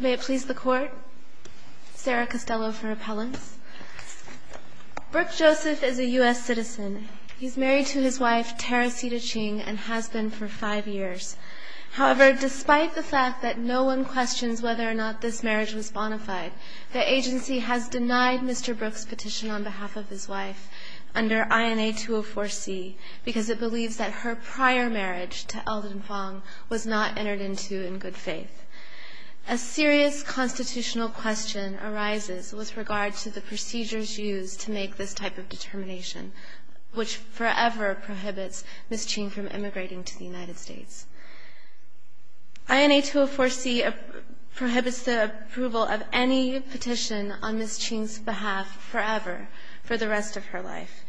May it please the Court, Sarah Costello for appellants. Brooke Joseph is a U.S. citizen. He's married to his wife, Teresita Ching, and has been for five years. However, despite the fact that no one questions whether or not this marriage was bona fide, the agency has denied Mr. Brooke's petition on behalf of his wife under INA 204C because it believes that her prior marriage to Eldon Fong was not entered into in good faith. A serious constitutional question arises with regard to the procedures used to make this type of determination, which forever prohibits Ms. Ching from immigrating to the United States. INA 204C prohibits the approval of any petition on Ms. Ching's behalf forever, for the rest of her life,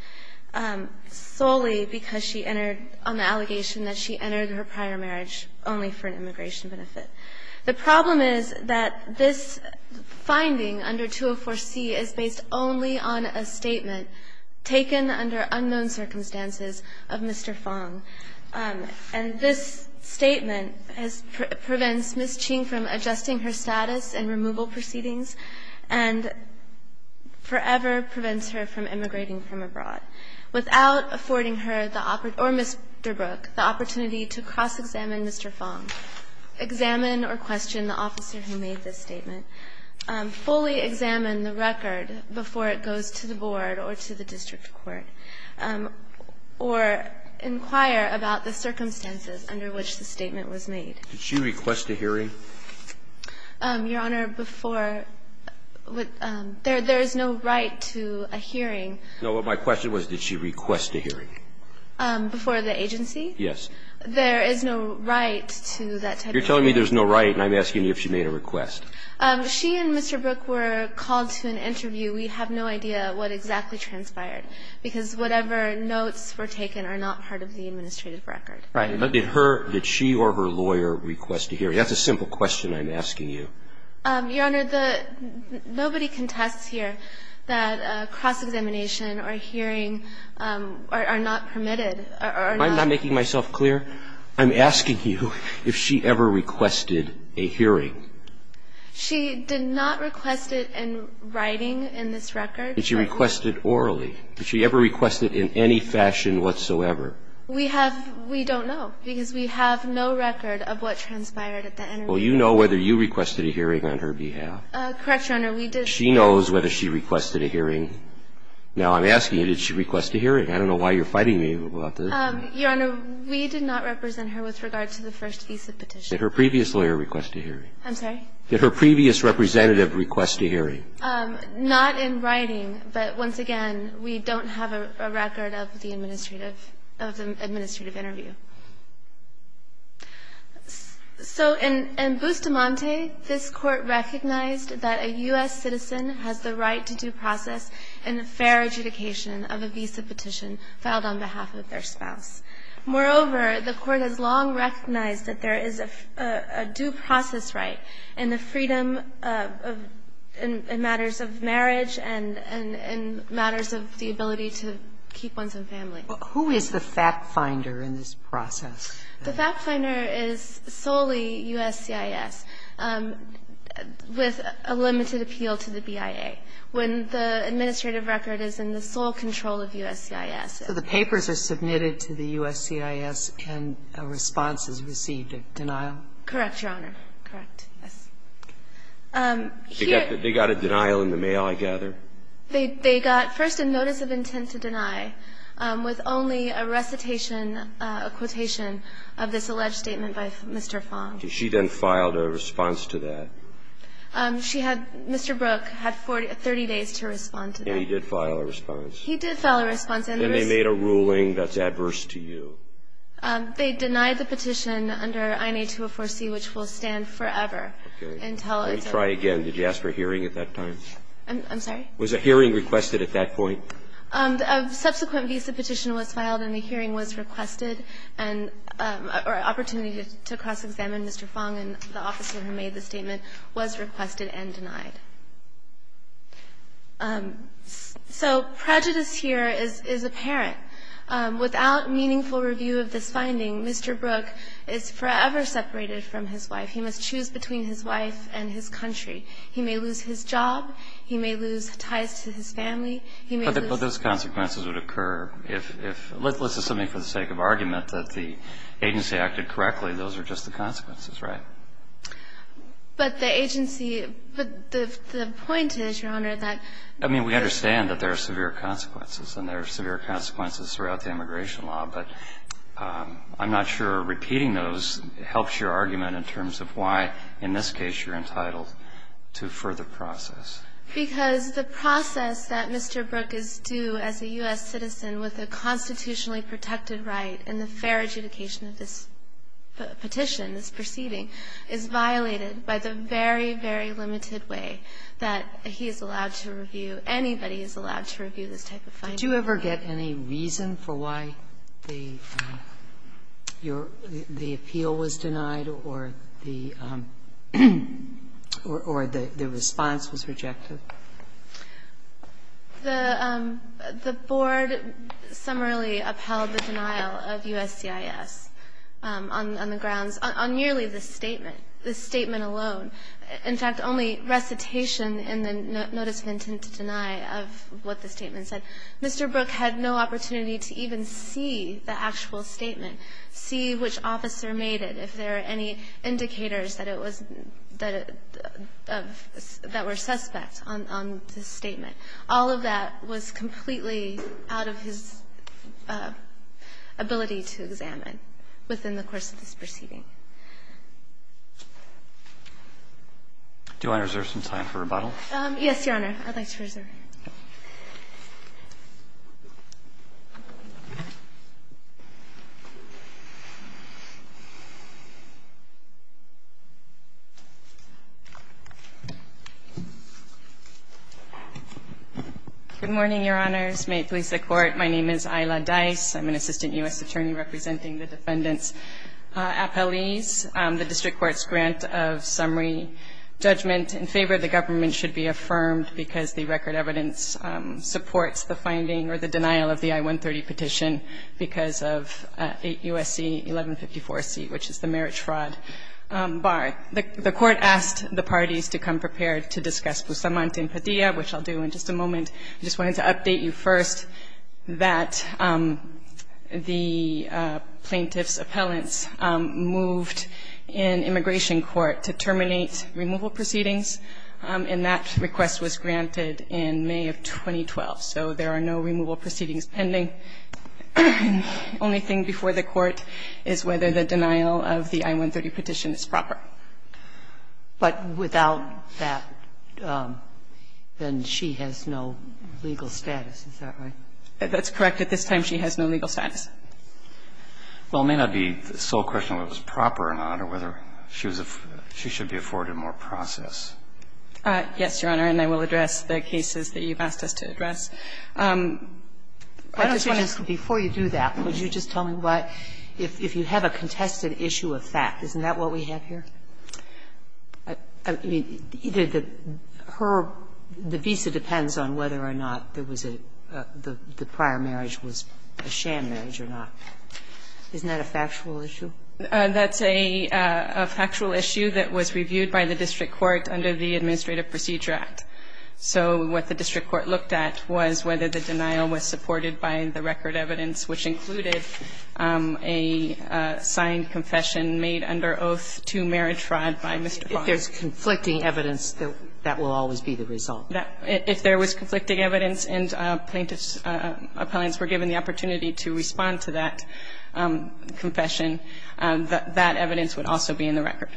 solely because she entered on the allegation that she entered her prior marriage only for an immigration benefit. The problem is that this finding under 204C is based only on a statement taken under unknown circumstances of Mr. Fong. And this statement prevents Ms. Ching from adjusting her status in removal proceedings and forever prevents her from immigrating from abroad. Without affording her or Mr. Brooke the opportunity to cross-examine Mr. Fong, examine or question the officer who made this statement, fully examine the record before it goes to the board or to the district court, or inquire about the circumstances under which the statement was made. Roberts. Did she request a hearing? Your Honor, before, there is no right to a hearing. No. My question was, did she request a hearing? Before the agency? Yes. There is no right to that type of hearing. You're telling me there's no right, and I'm asking you if she made a request. She and Mr. Brooke were called to an interview. We have no idea what exactly transpired, because whatever notes were taken are not part of the administrative record. Right. But did her, did she or her lawyer request a hearing? That's a simple question I'm asking you. Your Honor, nobody contests here that cross-examination or hearing are not permitted or are not. Am I not making myself clear? I'm asking you if she ever requested a hearing. She did not request it in writing in this record. Did she request it orally? Did she ever request it in any fashion whatsoever? We have, we don't know, because we have no record of what transpired at that interview. Well, you know whether you requested a hearing on her behalf. Correct, Your Honor. We did not. She knows whether she requested a hearing. Now, I'm asking you, did she request a hearing? I don't know why you're fighting me about this. Your Honor, we did not represent her with regard to the first visa petition. Did her previous lawyer request a hearing? I'm sorry? Did her previous representative request a hearing? Not in writing. But, once again, we don't have a record of the administrative interview. So in Bustamante, this Court recognized that a U.S. citizen has the right to due process and fair adjudication of a visa petition filed on behalf of their spouse. Moreover, the Court has long recognized that there is a due process right and the freedom in matters of marriage and in matters of the ability to keep ones in family. Who is the fact finder in this process? The fact finder is solely USCIS with a limited appeal to the BIA. When the administrative record is in the sole control of USCIS. So the papers are submitted to the USCIS and a response is received, a denial? Correct, Your Honor. Correct, yes. They got a denial in the mail, I gather? They got first a notice of intent to deny with only a recitation, a quotation of this alleged statement by Mr. Fong. She then filed a response to that? She had Mr. Brook had 30 days to respond to that. And he did file a response? He did file a response. And they made a ruling that's adverse to you? They denied the petition under INA 204C, which will stand forever. Okay. Let me try again. Did you ask for a hearing at that time? I'm sorry? Was a hearing requested at that point? A subsequent visa petition was filed and a hearing was requested and an opportunity to cross-examine Mr. Fong and the officer who made the statement was requested and denied. So prejudice here is apparent. Without meaningful review of this finding, Mr. Brook is forever separated from his wife. He must choose between his wife and his country. He may lose his job. He may lose ties to his family. He may lose his job. But those consequences would occur if, let's assume for the sake of argument that the agency acted correctly, those are just the consequences, right? But the agency, but the point is, Your Honor, that we understand that there are severe consequences and there are severe consequences throughout the immigration law. But I'm not sure repeating those helps your argument in terms of why, in this case, you're entitled to further process. Because the process that Mr. Brook is due as a U.S. citizen with a constitutionally protected right and the fair adjudication of this petition, this proceeding, is violated by the very, very limited way that he is allowed to review, anybody who is allowed to review this type of finding. Sotomayor, did you ever get any reason for why the appeal was denied or the response was rejected? The Board summarily upheld the denial of USCIS on the grounds, on nearly this statement, this statement alone, in fact, only recitation in the notice of intent to deny of what the statement said. Mr. Brook had no opportunity to even see the actual statement, see which officer made it, if there are any indicators that it was that were suspect on this statement. All of that was completely out of his ability to examine within the course of this proceeding. Do I reserve some time for rebuttal? Yes, Your Honor. I'd like to reserve. Good morning, Your Honors. May it please the Court. My name is Ayla Dice. I'm an assistant U.S. attorney representing the defendant's appellees. The district court's grant of summary judgment in favor of the government should be affirmed because the record evidence supports the finding or the denial of the I-130 petition because of 8 U.S.C. 1154C, which is the marriage fraud bar. The Court asked the parties to come prepared to discuss Pusamant and Padilla, which I'll do in just a moment. I just wanted to update you first that the plaintiff's appellants moved in immigration court to terminate removal proceedings, and that request was granted in May of 2012. So there are no removal proceedings pending. The only thing before the Court is whether the denial of the I-130 petition is proper. But without that, then she has no legal status. Is that right? That's correct. At this time, she has no legal status. Well, it may not be the sole question whether it was proper or not or whether she should be afforded more process. Yes, Your Honor. And I will address the cases that you've asked us to address. I just want to ask, before you do that, would you just tell me why, if you have a contested issue of fact, isn't that what we have here? I mean, either the her the visa depends on whether or not there was a the prior marriage was a sham marriage or not. Isn't that a factual issue? That's a factual issue that was reviewed by the district court under the Administrative Procedure Act. So what the district court looked at was whether the denial was supported by the record evidence, which included a signed confession made under oath to marriage fraud by Mr. Fong. If there's conflicting evidence, that will always be the result. If there was conflicting evidence and plaintiff's appellants were given the opportunity to respond to that confession, that evidence would also be in the record.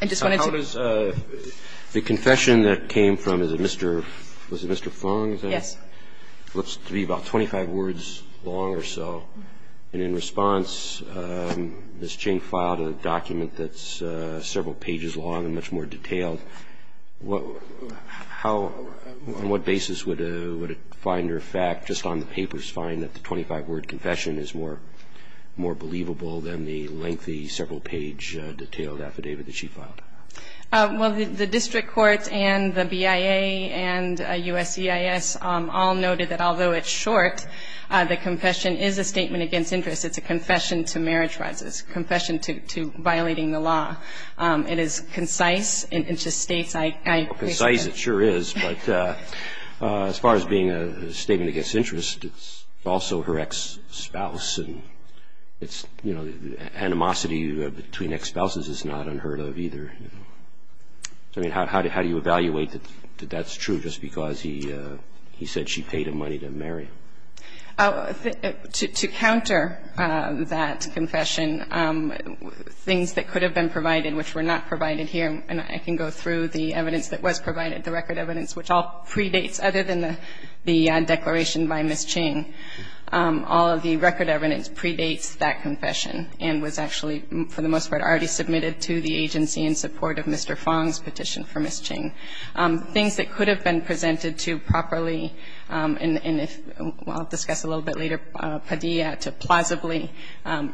I just wanted to. So how does the confession that came from, was it Mr. Fong? Yes. It looks to be about 25 words long or so. And in response, Ms. Ching filed a document that's several pages long and much more detailed. How, on what basis would a finder of fact just on the papers find that the 25-word confession is more believable than the lengthy, several-page, detailed affidavit that she filed? Well, the district court and the BIA and USCIS all noted that although it's short, the confession is a statement against interest. It's a confession to marriage fraud. It's a confession to violating the law. It is concise. It just states, I presume. Concise it sure is. But as far as being a statement against interest, it's also her ex-spouse. And it's, you know, animosity between ex-spouses is not unheard of either. I mean, how do you evaluate that that's true just because he said she paid him money to marry? To counter that confession, things that could have been provided, which were not provided here, and I can go through the evidence that was provided, the record evidence, which all predates, other than the declaration by Ms. Ching, all of the record evidence predates that confession and was actually, for the most part, already submitted to the agency in support of Mr. Fong's petition for Ms. Ching. Things that could have been presented to properly, and if we'll discuss a little bit later, Padilla, to plausibly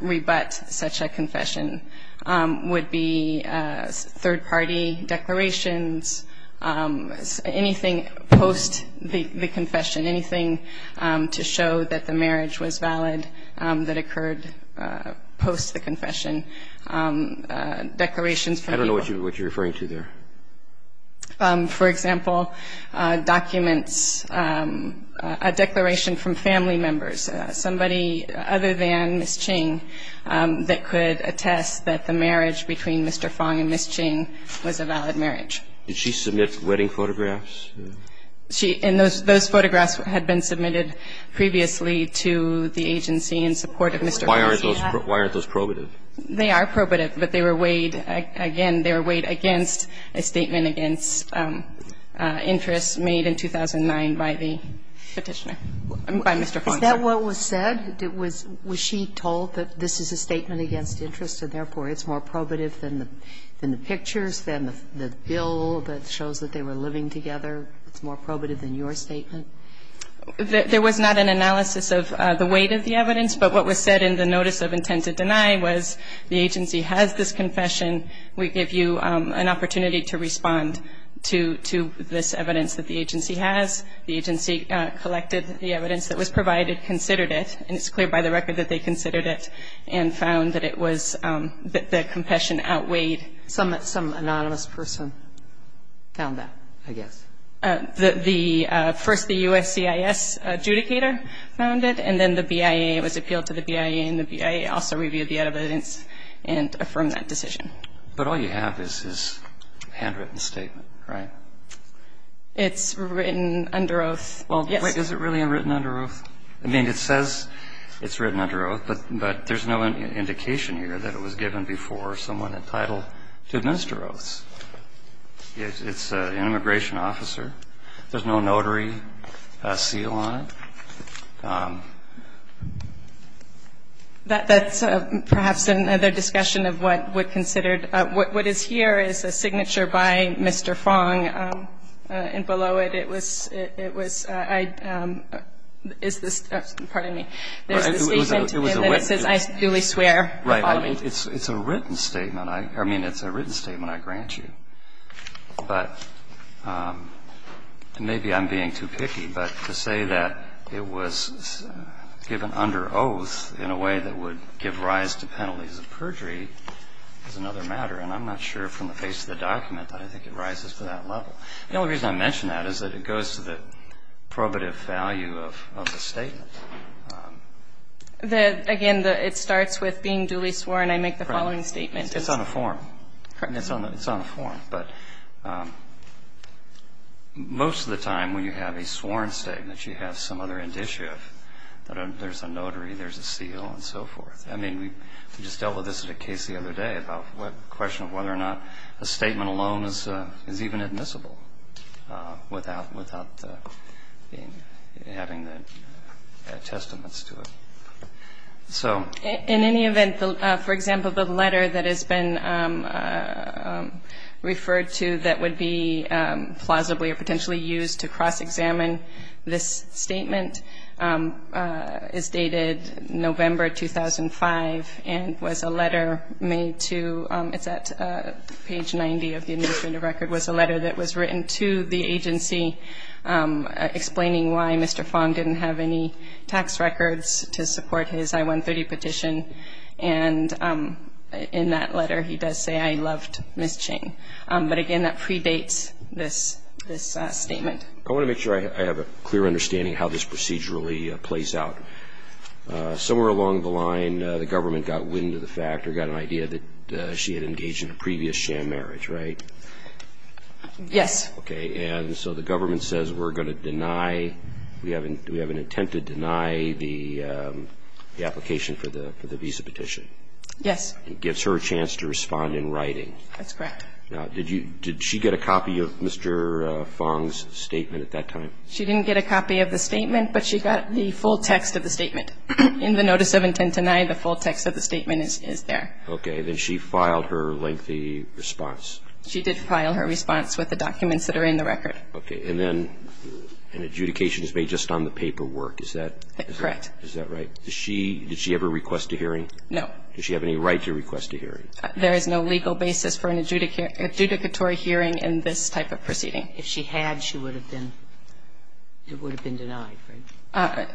rebut such a confession would be third-party declarations, anything post the confession, anything to show that the marriage was valid that occurred post the confession. I don't know what you're referring to there. For example, documents, a declaration from family members, somebody other than Ms. Ching that could attest that the marriage between Mr. Fong and Ms. Ching was a valid marriage. Did she submit wedding photographs? She – and those photographs had been submitted previously to the agency in support of Mr. Fong. Why aren't those probative? They are probative, but they were weighed – again, they were weighed against a statement against interest made in 2009 by the petitioner, by Mr. Fong. Is that what was said? Was she told that this is a statement against interest and, therefore, it's more probative than the pictures, than the bill that shows that they were living together? It's more probative than your statement? There was not an analysis of the weight of the evidence, but what was said in the notice of intent to deny was the agency has this confession. We give you an opportunity to respond to this evidence that the agency has. The agency collected the evidence that was provided, considered it, and it's clear by the record that they considered it and found that it was – that the confession outweighed. Some anonymous person found that, I guess. First, the USCIS adjudicator found it, and then the BIA. It was appealed to the BIA, and the BIA also reviewed the evidence and affirmed that decision. But all you have is his handwritten statement, right? It's written under oath. Well, wait. Is it really written under oath? I mean, it says it's written under oath, but there's no indication here that it was given before someone entitled to administer oaths. It's an immigration officer. There's no notary seal on it. That's perhaps another discussion of what would consider – what is here is a signature by Mr. Fong, and below it, it was – it was – is this – pardon me. There's a statement in there that says, I duly swear. Right. It's a written statement. I mean, it's a written statement, I grant you. But maybe I'm being too picky, but to say that it was a written statement and that it was given under oath in a way that would give rise to penalties of perjury is another matter, and I'm not sure from the face of the document that I think it rises to that level. The only reason I mention that is that it goes to the probative value of the statement. The – again, it starts with being duly sworn. I make the following statement. It's on a form. Correct. It's on a form. But most of the time, when you have a sworn statement, you have some other indicia that there's a notary, there's a seal, and so forth. I mean, we just dealt with this in a case the other day about the question of whether or not a statement alone is even admissible without having the testaments to it. In any event, for example, the letter that has been referred to that would be plausibly or potentially used to cross-examine this statement is dated November 2005 and was a letter made to – it's at page 90 of the administrative record – was a letter that was written to the agency explaining why Mr. Fong didn't have any tax records to support his I-130 petition. And in that letter, he does say, I loved Ms. Ching. But again, that predates this statement. I want to make sure I have a clear understanding of how this procedurally plays out. Somewhere along the line, the government got wind of the fact or got an idea that she had engaged in a previous sham marriage, right? Yes. Okay. And so the government says, we're going to deny – we have an intent to deny the application for the visa petition. Yes. It gives her a chance to respond in writing. That's correct. Now, did she get a copy of Mr. Fong's statement at that time? She didn't get a copy of the statement, but she got the full text of the statement. In the notice of intent denied, the full text of the statement is there. Okay. Then she filed her lengthy response. She did file her response with the documents that are in the record. Okay. And then an adjudication is made just on the paperwork. Is that – Correct. Is that right? Does she – did she ever request a hearing? No. Does she have any right to request a hearing? There is no legal basis for an adjudicatory hearing in this type of proceeding. If she had, she would have been – it would have been denied, right?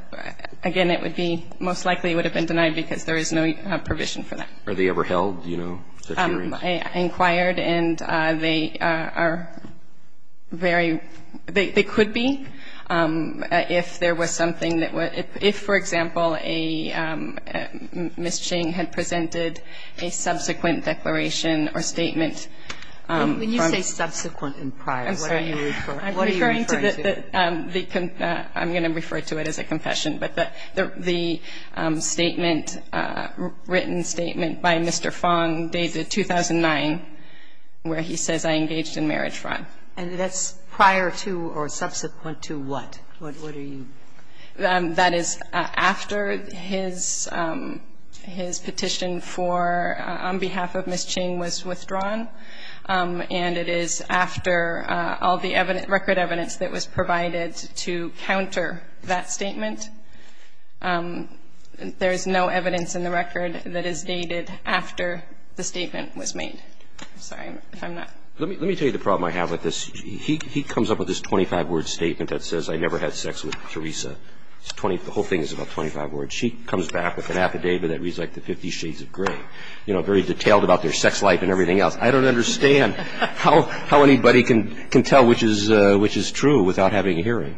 Again, it would be – most likely it would have been denied because there is no provision for that. Are they ever held, you know, such hearings? I inquired, and they are very – they could be if there was something that – if, for example, a – Ms. Ching had presented a subsequent declaration or statement from – When you say subsequent and prior, what are you referring to? I'm sorry. I'm referring to the – I'm going to refer to it as a confession. But the statement – written statement by Mr. Fong dated 2009, where he says, I engaged in marriage fraud. And that's prior to or subsequent to what? What are you – That is after his – his petition for – on behalf of Ms. Ching was withdrawn, and it is after all the record evidence that was provided to counter that statement there is no evidence in the record that is dated after the statement was made. I'm sorry if I'm not – Let me tell you the problem I have with this. He comes up with this 25-word statement that says, I never had sex with Theresa. It's 20 – the whole thing is about 25 words. She comes back with an affidavit that reads like the Fifty Shades of Grey, you know, very detailed about their sex life and everything else. I don't understand how – how anybody can – can tell which is – which is true without having a hearing.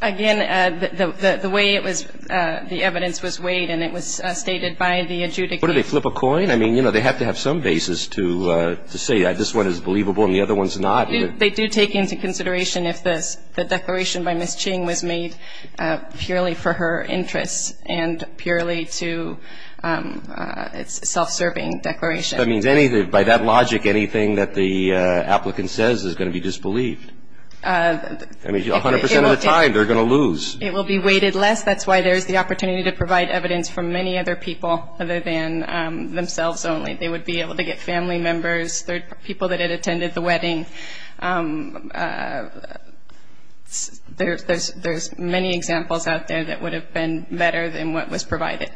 Again, the – the way it was – the evidence was weighed and it was stated by the adjudicator. What, do they flip a coin? I mean, you know, they have to have some basis to – to say this one is believable and the other one's not. They do take into consideration if the declaration by Ms. Ching was made purely for her interests and purely to – it's a self-serving declaration. That means anything – by that logic, anything that the applicant says is going to be disbelieved. I mean, 100 percent of the time, they're going to lose. It will be weighted less. That's why there's the opportunity to provide evidence from many other people other than themselves only. They would be able to get family members, third – people that had attended the wedding. There's – there's many examples out there that would have been better than what was provided.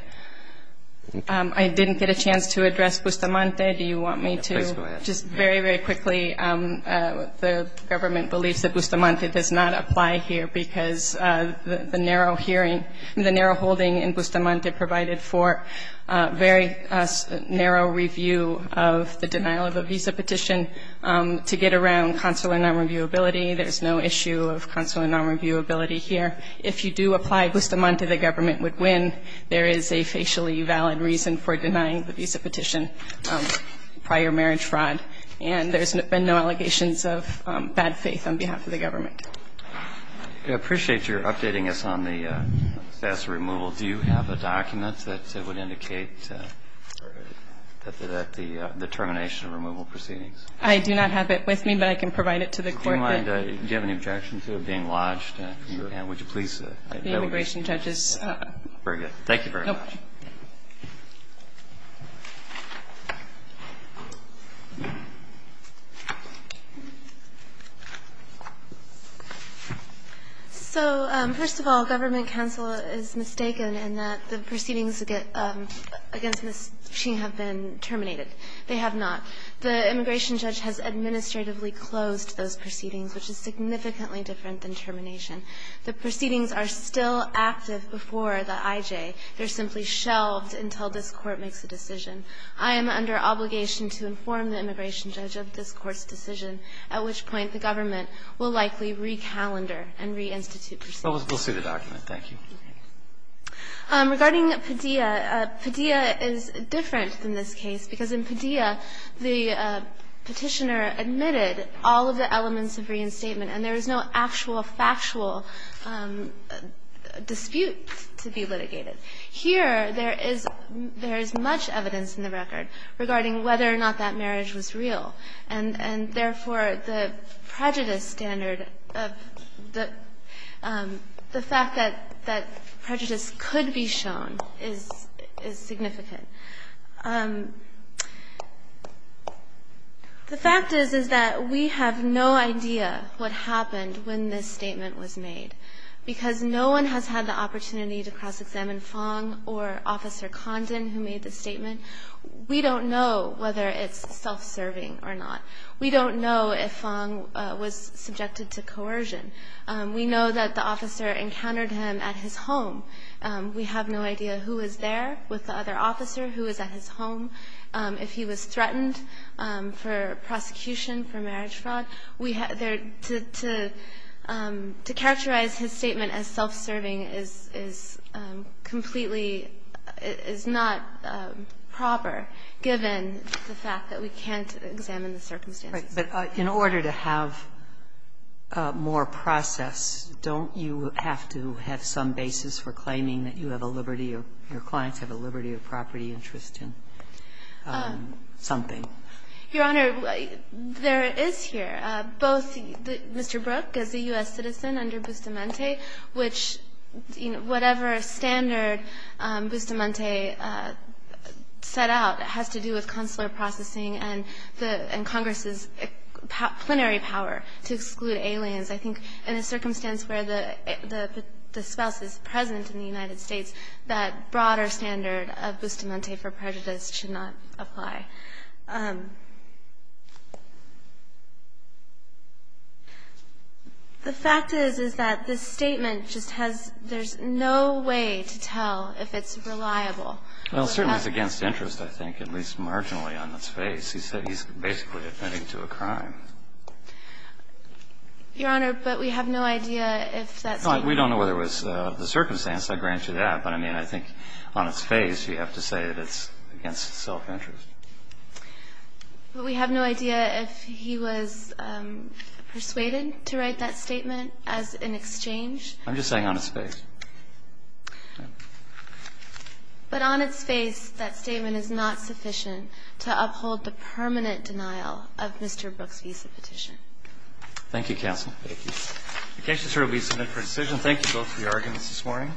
I didn't get a chance to address Bustamante. Do you want me to? Please go ahead. Just very, very quickly, the government believes that Bustamante does not apply here because the narrow hearing – the narrow holding in Bustamante provided for very narrow review of the denial of a visa petition to get around consular nonreviewability. There's no issue of consular nonreviewability here. If you do apply, Bustamante, the government would win. There is a facially valid reason for denying the visa petition prior marriage fraud, and there's been no allegations of bad faith on behalf of the government. I appreciate your updating us on the status of removal. Do you have a document that would indicate that the termination of removal proceedings? I do not have it with me, but I can provide it to the court that – Do you mind – do you have any objections to it being lodged? Sure. And would you please – The immigration judge is – Very good. Thank you very much. So, first of all, government counsel is mistaken in that the proceedings against Ms. Ching have been terminated. They have not. The immigration judge has administratively closed those proceedings, which is significantly different than termination. The proceedings are still active before the IJ. They're simply shelved until this Court makes a decision. I am under obligation to inform the immigration judge of this Court's decision, at which point the government will likely recalendar and reinstitute proceedings. We'll see the document. Thank you. Regarding Padilla, Padilla is different than this case, because in Padilla, the Petitioner all of the elements of reinstatement, and there is no actual factual dispute to be litigated. Here, there is much evidence in the record regarding whether or not that marriage was real, and therefore, the prejudice standard of the fact that prejudice could be shown is significant. The fact is, is that we have no idea what happened when this statement was made, because no one has had the opportunity to cross-examine Fong or Officer Condon who made the statement. We don't know whether it's self-serving or not. We don't know if Fong was subjected to coercion. We know that the officer encountered him at his home. We have no idea who was there with the other officer, who was at his home, if he was threatened for prosecution for marriage fraud. We have there to characterize his statement as self-serving is completely is not proper, given the fact that we can't examine the circumstances. But in order to have more process, don't you have to have some basis for claiming that you have a liberty or your clients have a liberty of property interest in something? Your Honor, there is here. Both Mr. Brook is a U.S. citizen under Bustamante, which whatever standard Bustamante set out has to do with consular processing and Congress's plenary power to exclude aliens. I think in a circumstance where the spouse is present in the United States, that broader standard of Bustamante for prejudice should not apply. The fact is, is that this statement just has no way to tell if it's reliable Well, certainly it's against interest, I think, at least marginally on its face. He said he's basically admitting to a crime. Your Honor, but we have no idea if that's the case. We don't know whether it was the circumstance that granted that. But, I mean, I think on its face, you have to say that it's against self-interest. But we have no idea if he was persuaded to write that statement as an exchange. I'm just saying on its face. But on its face, that statement is not sufficient to uphold the permanent denial of Mr. Brook's visa petition. Thank you, counsel. Thank you. The case is hereby submitted for decision. Thank you both for your arguments this morning.